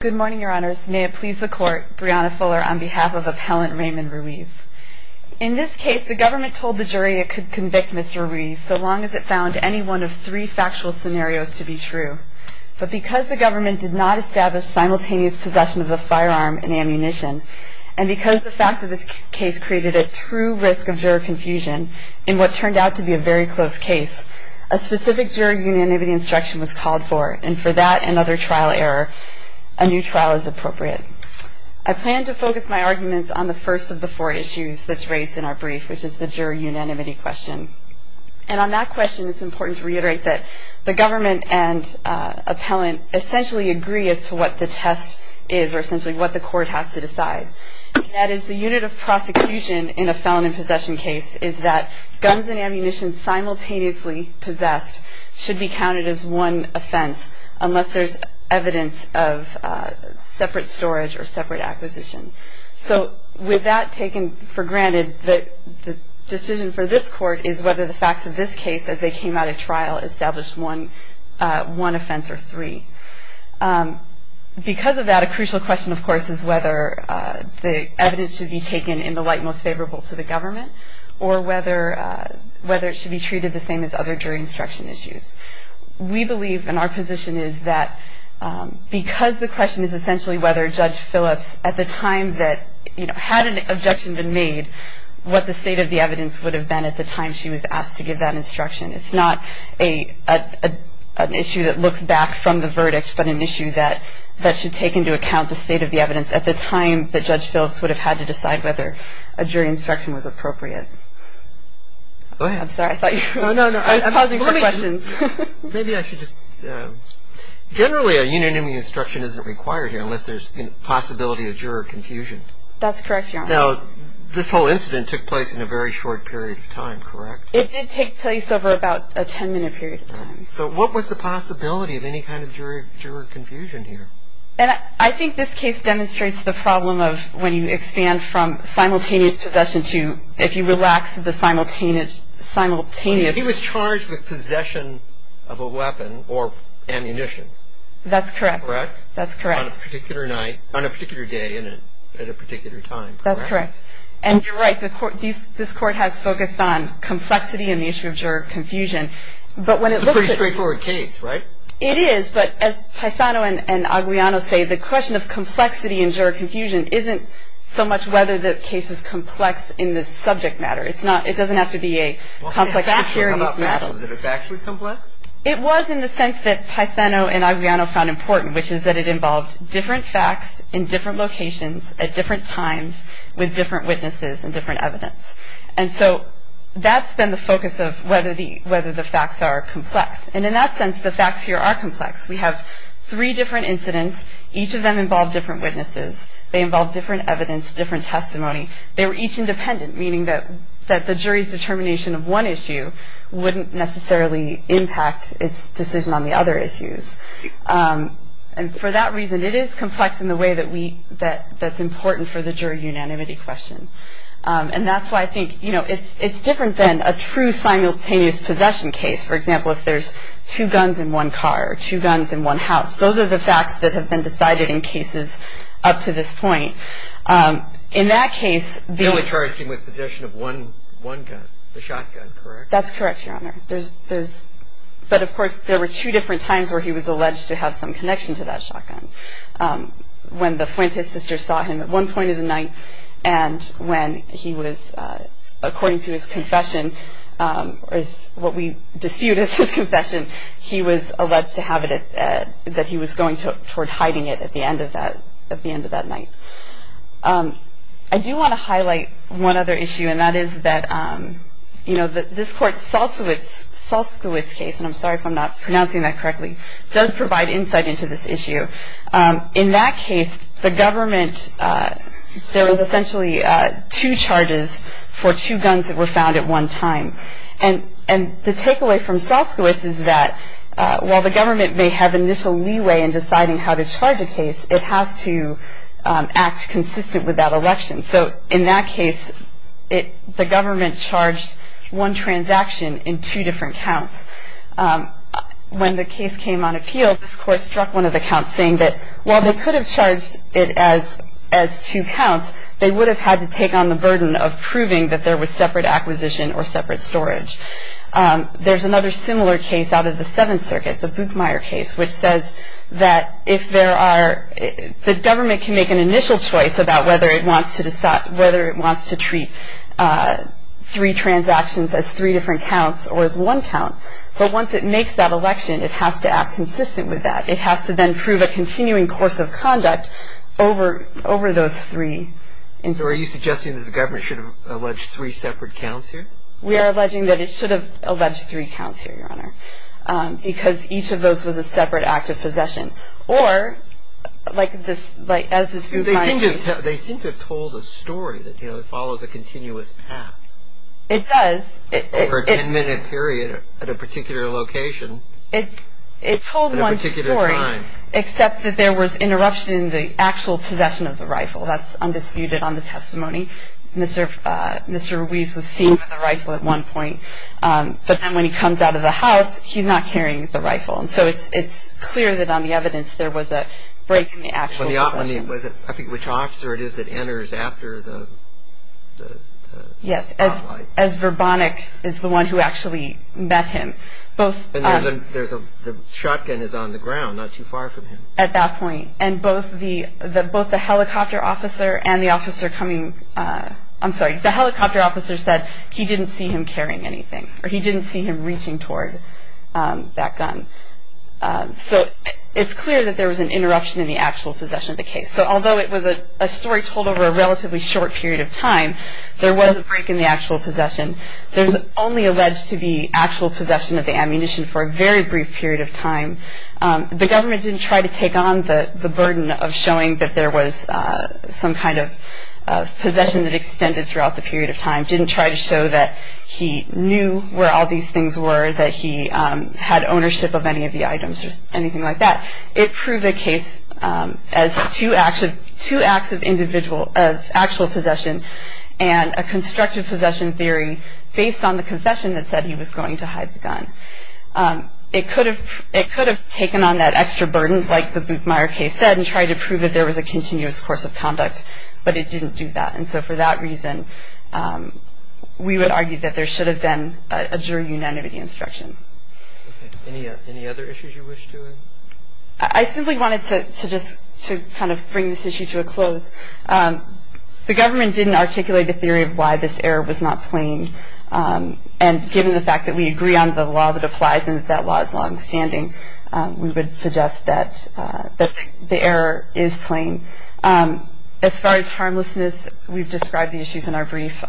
Good morning, Your Honors. May it please the Court, Brianna Fuller on behalf of Appellant Raymond Ruiz. In this case, the government told the jury it could convict Mr. Ruiz so long as it found any one of three factual scenarios to be true. But because the government did not establish simultaneous possession of the firearm and ammunition, and because the facts of this case created a true risk of juror confusion in what turned out to be a very close case, a specific juror unanimity instruction was called for, and for that and other trial error, a new trial is appropriate. I plan to focus my arguments on the first of the four issues that's raised in our brief, which is the juror unanimity question. And on that question, it's important to reiterate that the government and appellant essentially agree as to what the test is, or essentially what the Court has to decide. And that is the unit of prosecution in a felon in possession case is that guns and ammunition simultaneously possessed should be counted as one offense, unless there's evidence of separate storage or separate acquisition. So with that taken for granted, the decision for this Court is whether the facts of this case, as they came out of trial, established one offense or three. Because of that, a crucial question, of course, is whether the evidence should be taken in the light most favorable to the government, or whether it should be treated the same as other jury instruction issues. We believe, and our position is that because the question is essentially whether Judge Phillips, at the time that, you know, had an objection been made, what the state of the evidence would have been at the time she was asked to give that instruction. It's not an issue that looks back from the verdict, but an issue that should take into account the state of the evidence at the time that Judge Phillips would have had to decide whether a jury instruction was appropriate. I'm sorry, I thought you were pausing for questions. Maybe I should just, generally a unanimous instruction isn't required here, unless there's possibility of juror confusion. That's correct, Your Honor. Now, this whole incident took place in a very short period of time, correct? It did take place over about a 10-minute period of time. So what was the possibility of any kind of juror confusion here? I think this case demonstrates the problem of when you expand from simultaneous possession to, if you relax the simultaneous. He was charged with possession of a weapon or ammunition. That's correct. Correct? That's correct. On a particular night, on a particular day and at a particular time, correct? That's correct. And you're right. This Court has focused on complexity and the issue of juror confusion. It's a pretty straightforward case, right? It is. But as Paisano and Aguiano say, the question of complexity and juror confusion isn't so much whether the case is complex in the subject matter. It doesn't have to be a complex fact here in this matter. Was it factually complex? It was in the sense that Paisano and Aguiano found important, which is that it involved different facts in different locations at different times with different witnesses and different evidence. And so that's been the focus of whether the facts are complex. And in that sense, the facts here are complex. We have three different incidents. Each of them involved different witnesses. They involved different evidence, different testimony. They were each independent, meaning that the jury's determination of one issue wouldn't necessarily impact its decision on the other issues. And for that reason, it is complex in the way that's important for the juror unanimity question. And that's why I think, you know, it's different than a true simultaneous possession case. For example, if there's two guns in one car or two guns in one house, those are the facts that have been decided in cases up to this point. In that case, the... The only charge came with possession of one gun, the shotgun, correct? That's correct, Your Honor. But of course, there were two different times where he was alleged to have some connection to that shotgun. When the Fuentes sister saw him at one point of the night, and when he was, according to his confession, or what we dispute as his confession, he was alleged to have it at... that he was going toward hiding it at the end of that night. I do want to highlight one other issue, and that is that, you know, this Court's Salskiewicz case, and I'm sorry if I'm not pronouncing that correctly, does provide insight into this issue. In that case, the government... There was essentially two charges for two guns that were found at one time. And the takeaway from Salskiewicz is that, while the government may have initial leeway in deciding how to charge a case, it has to act consistent with that election. So in that case, the government charged one transaction in two different counts. When the case came on appeal, this Court struck one of the counts, saying that while they could have charged it as two counts, they would have had to take on the burden of proving that there was separate acquisition or separate storage. There's another similar case out of the Seventh Circuit, the Buchmeier case, which says that if there are... whether it wants to treat three transactions as three different counts or as one count, but once it makes that election, it has to act consistent with that. It has to then prove a continuing course of conduct over those three. So are you suggesting that the government should have alleged three separate counts here? We are alleging that it should have alleged three counts here, Your Honor, because each of those was a separate act of possession. Or, like as this Buchmeier case... They seem to have told a story that it follows a continuous path. It does. Over a ten-minute period at a particular location at a particular time. It told one story, except that there was interruption in the actual possession of the rifle. That's undisputed on the testimony. Mr. Ruiz was seen with a rifle at one point, but then when he comes out of the house, he's not carrying the rifle. So it's clear that on the evidence there was a break in the actual possession. Which officer it is that enters after the spotlight? Yes, as Verbonik is the one who actually met him. And the shotgun is on the ground, not too far from him. At that point. And both the helicopter officer and the officer coming... I'm sorry, the helicopter officer said he didn't see him carrying anything, or he didn't see him reaching toward that gun. So it's clear that there was an interruption in the actual possession of the case. So although it was a story told over a relatively short period of time, there was a break in the actual possession. There's only alleged to be actual possession of the ammunition for a very brief period of time. The government didn't try to take on the burden of showing that there was some kind of possession that extended throughout the period of time. Didn't try to show that he knew where all these things were, that he had ownership of any of the items or anything like that. It proved a case as two acts of actual possession and a constructive possession theory based on the confession that said he was going to hide the gun. It could have taken on that extra burden, like the Boothmeyer case said, and tried to prove that there was a continuous course of conduct. But it didn't do that. And so for that reason, we would argue that there should have been a jury unanimity instruction. Any other issues you wish to add? I simply wanted to just kind of bring this issue to a close. The government didn't articulate the theory of why this error was not claimed. And given the fact that we agree on the law that applies and that that law is longstanding, we would suggest that the error is claimed. As far as harmlessness, we've described the issues in our brief.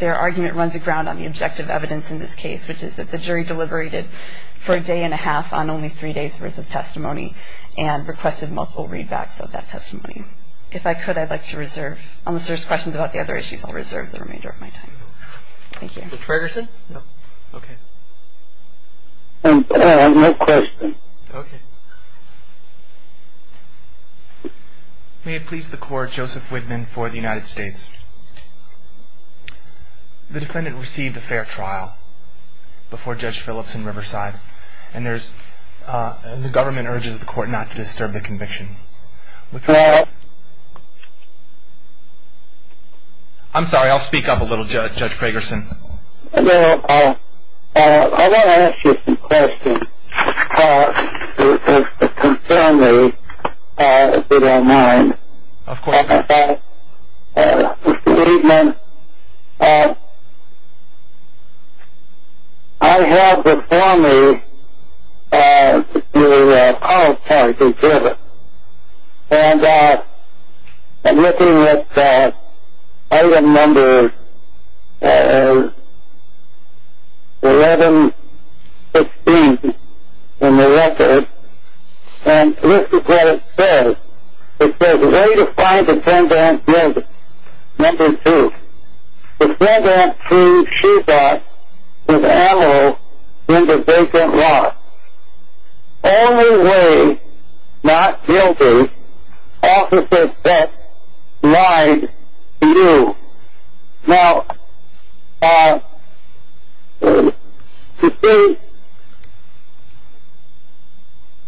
Their argument runs aground on the objective evidence in this case, which is that the jury deliberated for a day and a half on only three days' worth of testimony and requested multiple readbacks of that testimony. If I could, I'd like to reserve, unless there's questions about the other issues, I'll reserve the remainder of my time. Thank you. Mr. Tragerson? No. Okay. No questions. Okay. May it please the Court, Joseph Widman for the United States. The defendant received a fair trial before Judge Phillips in Riverside, and the government urges the Court not to disturb the conviction. I'm sorry, I'll speak up a little, Judge Tragerson. Well, I want to ask you some questions, if you don't mind. Of course. Mr. Widman, I have before me the call chart of Riverside, and I'm looking at item number 1116 in the record, and this is what it says. It says, way to find the defendant is number two. The defendant, she thought, was admiral in the vacant lot. Only way, not guilty, officers that lied to you. Now, you see,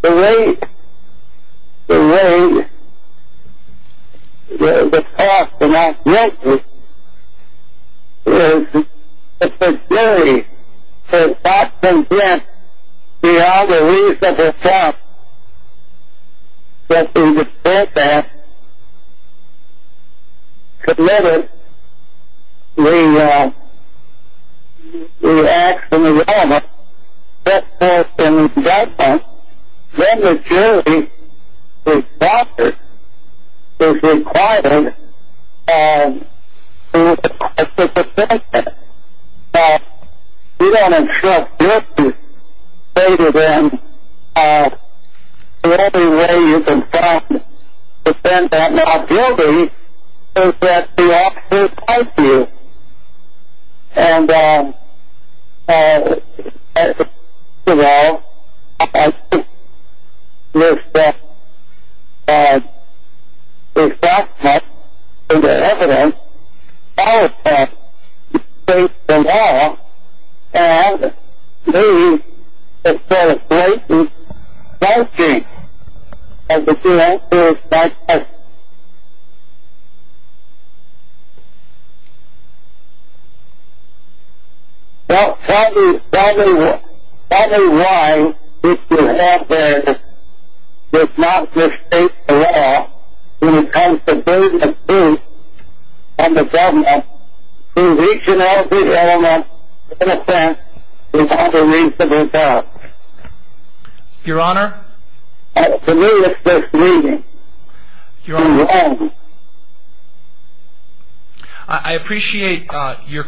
the way the court denied guilty is the jury has often been beyond a reasonable doubt that the defendant committed the acts in the realm of sexual and violence. Then the jury, the officer, is required to acquit the defendant. We don't instruct guilty. Say to them, the only way you can find the defendant not guilty is that the officer lied to you. And, first of all, I think, Mr. Widman, the defendant, is a resident of the state of Iowa, and we celebrate the founding of the state of Iowa. Now, tell me, tell me, tell me why the defendant did not forsake the law when it comes to doing the good of the government in reaching out to the government in a sense without a reasonable doubt. Your Honor? I appreciate your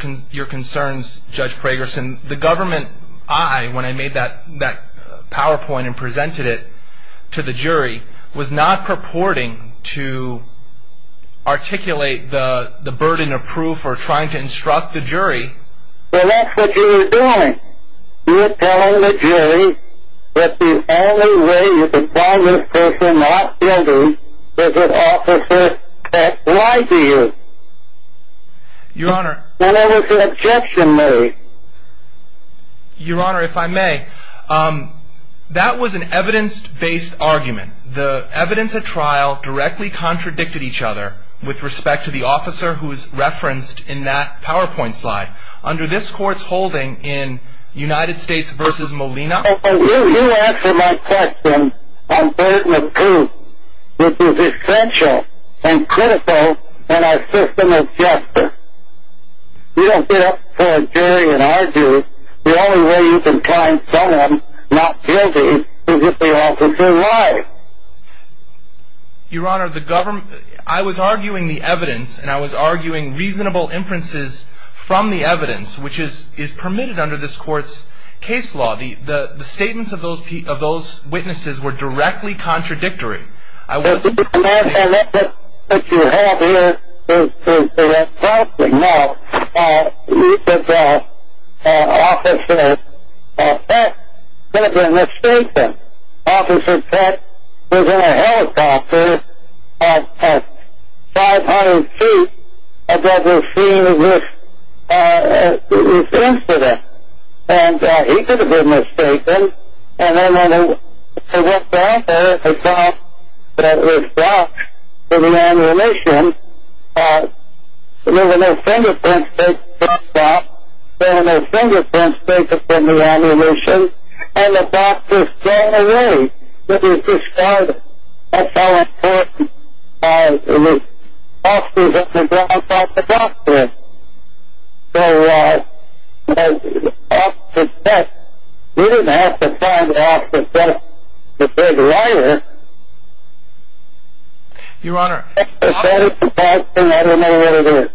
concerns, Judge Pragerson. The government, I, when I made that PowerPoint and presented it to the jury, was not purporting to articulate the burden of proof or trying to instruct the jury. But that's what you were doing. You were telling the jury that the only way you could find this person not guilty is if the officer lied to you. Your Honor? What was the objection made? Your Honor, if I may, that was an evidence-based argument. The evidence at trial directly contradicted each other with respect to the officer who is referenced in that PowerPoint slide. Under this Court's holding in United States v. Molina? You answered my question on burden of proof, which is essential and critical in our system of justice. You don't get up to a jury and argue the only way you can find someone not guilty is if the officer lies. Your Honor, the government, I was arguing the evidence, and I was arguing reasonable inferences from the evidence, which is permitted under this Court's case law. The statements of those witnesses were directly contradictory. The evidence that you have here is a false one. Now, you said that Officer Peck could have been mistaken. Officer Peck was in a helicopter at 500 feet above the scene of this incident, and he could have been mistaken. And then when they went down there, they found that it was blocked in the ammunition. There were no fingerprints taken from the box. There were no fingerprints taken from the ammunition. And the box was thrown away. But you described it. That's how important it was. Officer didn't drop off the box there. So, Officer Peck didn't have to find Officer Peck. If there's a liar, if there's a lie, then I don't know what it is.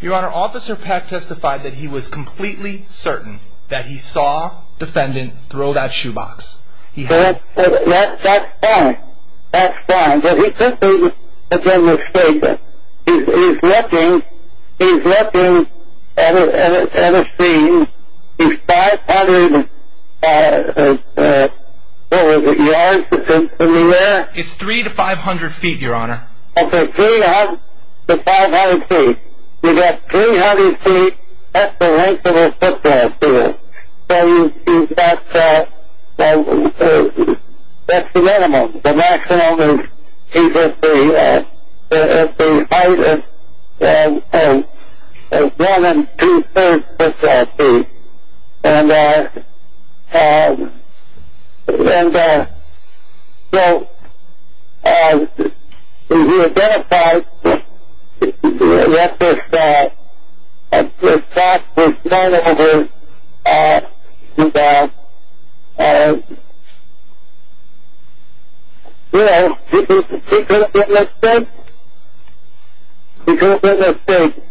Your Honor, Officer Peck testified that he was completely certain that he saw the defendant throw that shoebox. That's fine. That's fine. But he couldn't have been mistaken. He's looking at a scene. It's 500 yards. It's 300 to 500 feet, Your Honor. It's 300 to 500 feet. You've got 300 feet at the length of a football field. So, that's the minimum. The maximum is 250 at the height of one and two-thirds of that feet. And, you know, we identified that this box was thrown at him because, you know, he couldn't have been mistaken. He couldn't have been mistaken.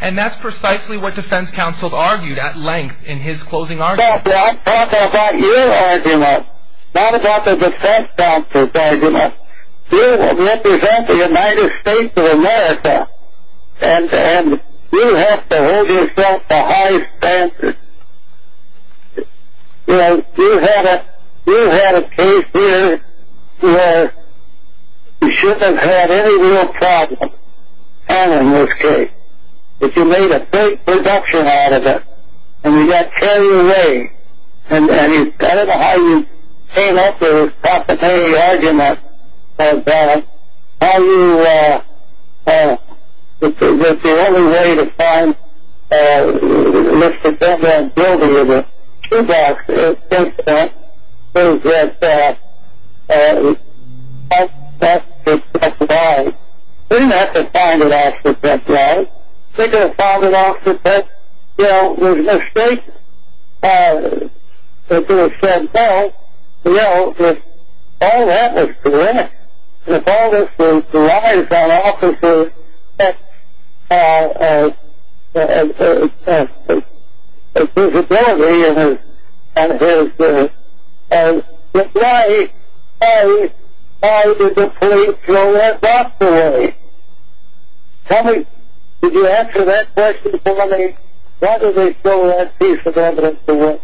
And that's precisely what defense counsel argued at length in his closing argument. Not about your argument. Not about the defense counsel's argument. You represent the United States of America, and you have to hold yourself to high standards. You know, you had a case here where you shouldn't have had any real problems. And, in this case, you made a great production out of it. And you got carried away. And I don't know how you came up with a proprietary argument about how you were the only way to find Mr. And then building with it. Two boxes. This one. This one. And that's why. We have to find an officer that's right. We've got to find an officer that, you know, was mistaken. If it was said no, you know, all that was correct. If all this was derived out of an officer's feasibility, then why did the police throw that box away? Tell me, did you answer that question for me? Why did they throw that piece of evidence away?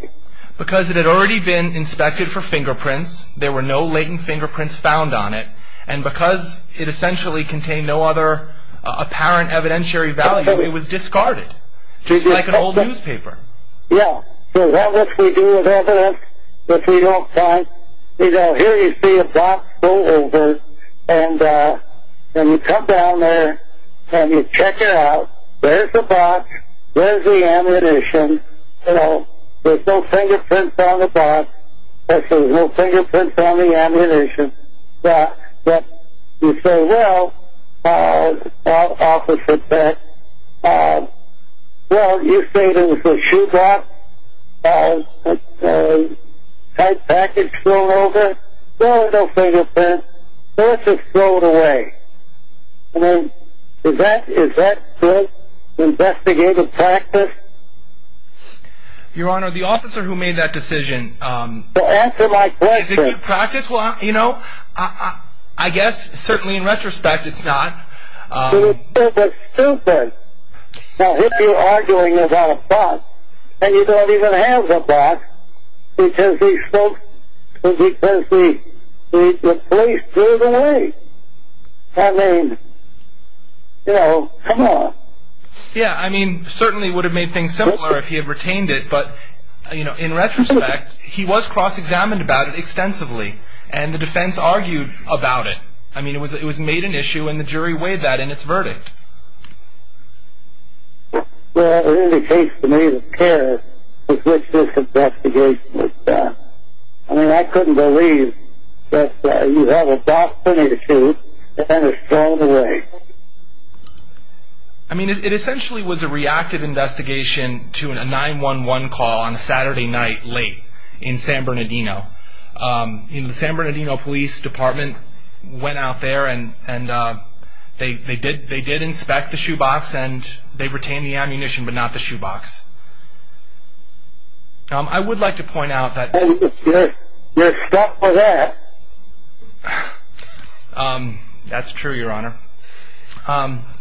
Because it had already been inspected for fingerprints. There were no latent fingerprints found on it. And because it essentially contained no other apparent evidentiary value, it was discarded. Just like an old newspaper. Yeah. So, what if we do have evidence that we don't find? You know, here you see a box go over. And you come down there and you check it out. There's the box. There's the ammunition. You know, there's no fingerprints on the box. There's no fingerprints on the ammunition. But you say, well, officer said, well, you say there was a shoebox. Had a package thrown over. No, no fingerprints. Let's just throw it away. I mean, is that good investigative practice? Your Honor, the officer who made that decision. Well, answer my question. Is it good practice? Well, you know, I guess, certainly in retrospect, it's not. It's stupid. Now, if you're arguing about a box, and you don't even have the box, because he spoke, because the police threw it away. I mean, you know, come on. Yeah, I mean, certainly would have made things simpler if he had retained it. But, you know, in retrospect, he was cross-examined about it extensively, and the defense argued about it. I mean, it was made an issue, and the jury weighed that in its verdict. Well, it indicates to me the care with which this investigation was done. I mean, I couldn't believe that you have a box ready to shoot, and it's thrown away. I mean, it essentially was a reactive investigation to a 911 call on a Saturday night late in San Bernardino. The San Bernardino Police Department went out there, and they did inspect the shoebox, and they retained the ammunition, but not the shoebox. I would like to point out that... That's true, Your Honor.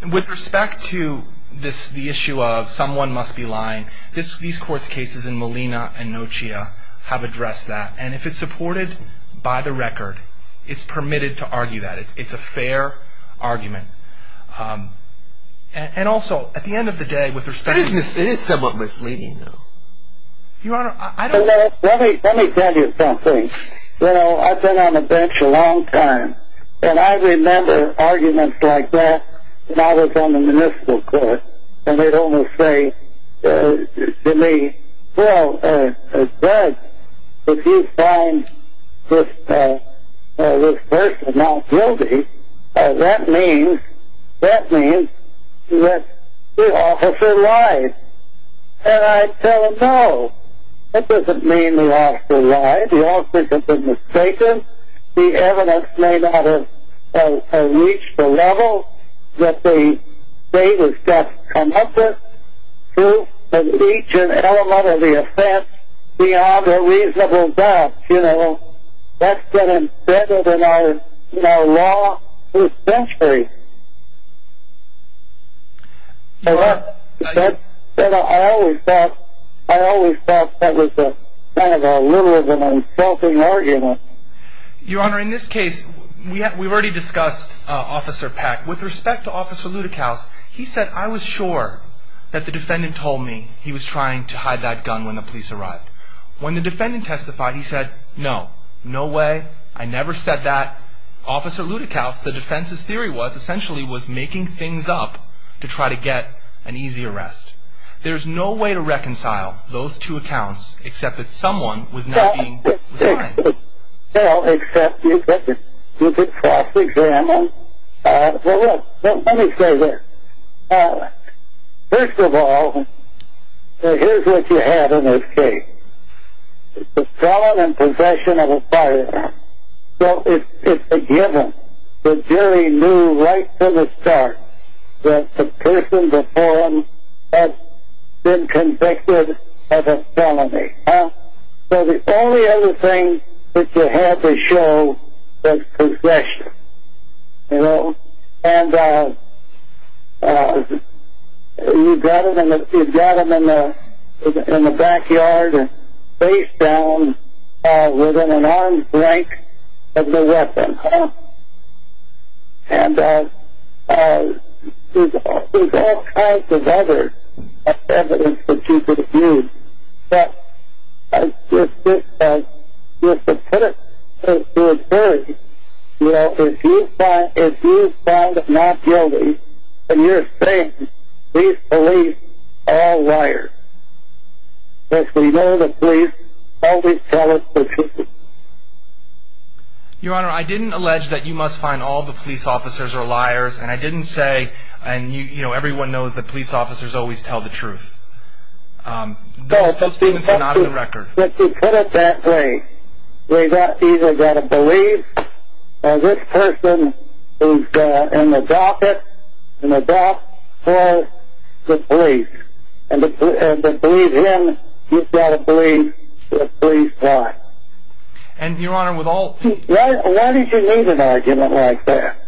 With respect to the issue of someone must be lying, these court cases in Molina and Nochia have addressed that. And if it's supported by the record, it's permitted to argue that. It's a fair argument. And also, at the end of the day, with respect to... It is somewhat misleading, though. Your Honor, I don't... Let me tell you something. You know, I've been on the bench a long time, and I remember arguments like that when I was on the municipal court. And they'd always say to me, Well, Greg, if you find this person not guilty, that means that the officer lied. And I'd tell them, no, that doesn't mean the officer lied. The officer's been mistaken. The evidence may not have reached the level that the state has got to come up with to reach an element of the offense beyond a reasonable doubt. You know, that's been embedded in our law for centuries. Your Honor, I always thought that was kind of a literal and insulting argument. Your Honor, in this case, we've already discussed Officer Peck. With respect to Officer Ludekaus, he said, I was sure that the defendant told me he was trying to hide that gun when the police arrived. When the defendant testified, he said, No, no way, I never said that. Officer Ludekaus, the defense's theory was, essentially, was making things up to try to get an easy arrest. There's no way to reconcile those two accounts, except that someone was not being designed. Well, except, is it a false example? Well, let me say this. First of all, here's what you have in this case. It's a felon in possession of a firearm. So it's a given. The jury knew right from the start that the person before him had been convicted of a felony. So the only other thing that you had to show was possession. And you got him in the backyard, face down, within an arm's length of the weapon. And there's all kinds of other evidence that you could use. But I just think that the defendant's theory, you know, if you find not guilty, then you're saying these police are all liars. Because we know the police always tell the truth. Your Honor, I didn't allege that you must find all the police officers are liars, and I didn't say, you know, everyone knows that police officers always tell the truth. Those things are not in the record. Let's put it that way. We've either got to believe that this person is in the docket, in the dockhole, with police. And to believe him, you've got to believe the police lie. And, Your Honor, with all... Why did you need an argument like that?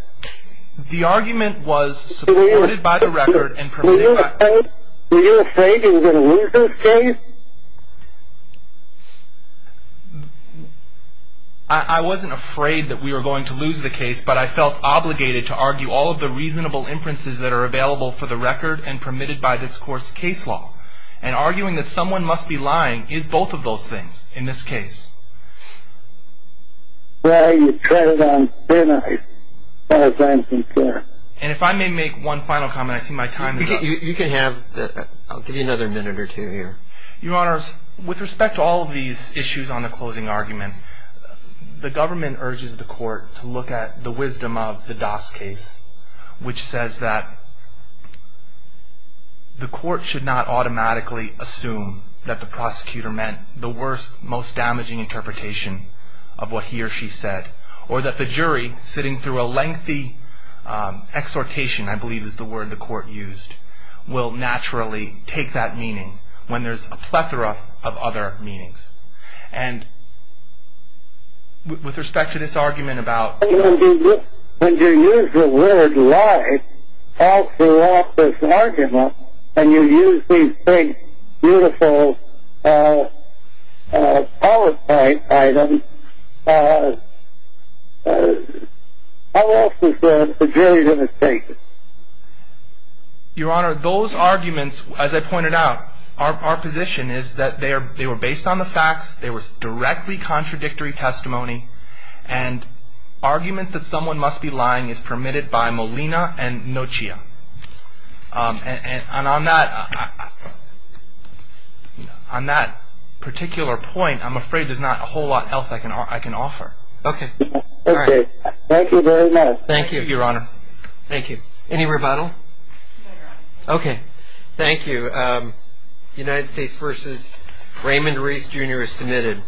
The argument was supported by the record and permitted by... Were you afraid that you were going to lose this case? I wasn't afraid that we were going to lose the case, but I felt obligated to argue all of the reasonable inferences that are available for the record and permitted by this court's case law. And arguing that someone must be lying is both of those things in this case. Well, you tried it on, didn't I, as I'm concerned? And if I may make one final comment, I see my time is up. You can have the... I'll give you another minute or two here. Your Honors, with respect to all of these issues on the closing argument, the government urges the court to look at the wisdom of the Das case, which says that the court should not automatically assume that the prosecutor meant the worst, most damaging interpretation of what he or she said, or that the jury, sitting through a lengthy exhortation, I believe is the word the court used, will naturally take that meaning when there's a plethora of other meanings. And with respect to this argument about... When you use the word lie all throughout this argument, and you use these three beautiful PowerPoint items, how else is the jury going to take it? Your Honor, those arguments, as I pointed out, our position is that they were based on the facts. They were directly contradictory testimony. And argument that someone must be lying is permitted by Molina and Noccia. And on that particular point, I'm afraid there's not a whole lot else I can offer. Okay. All right. Thank you very much. Thank you. Thank you, Your Honor. Thank you. Any rebuttal? No, Your Honor. United States v. Raymond Reese Jr. is submitted.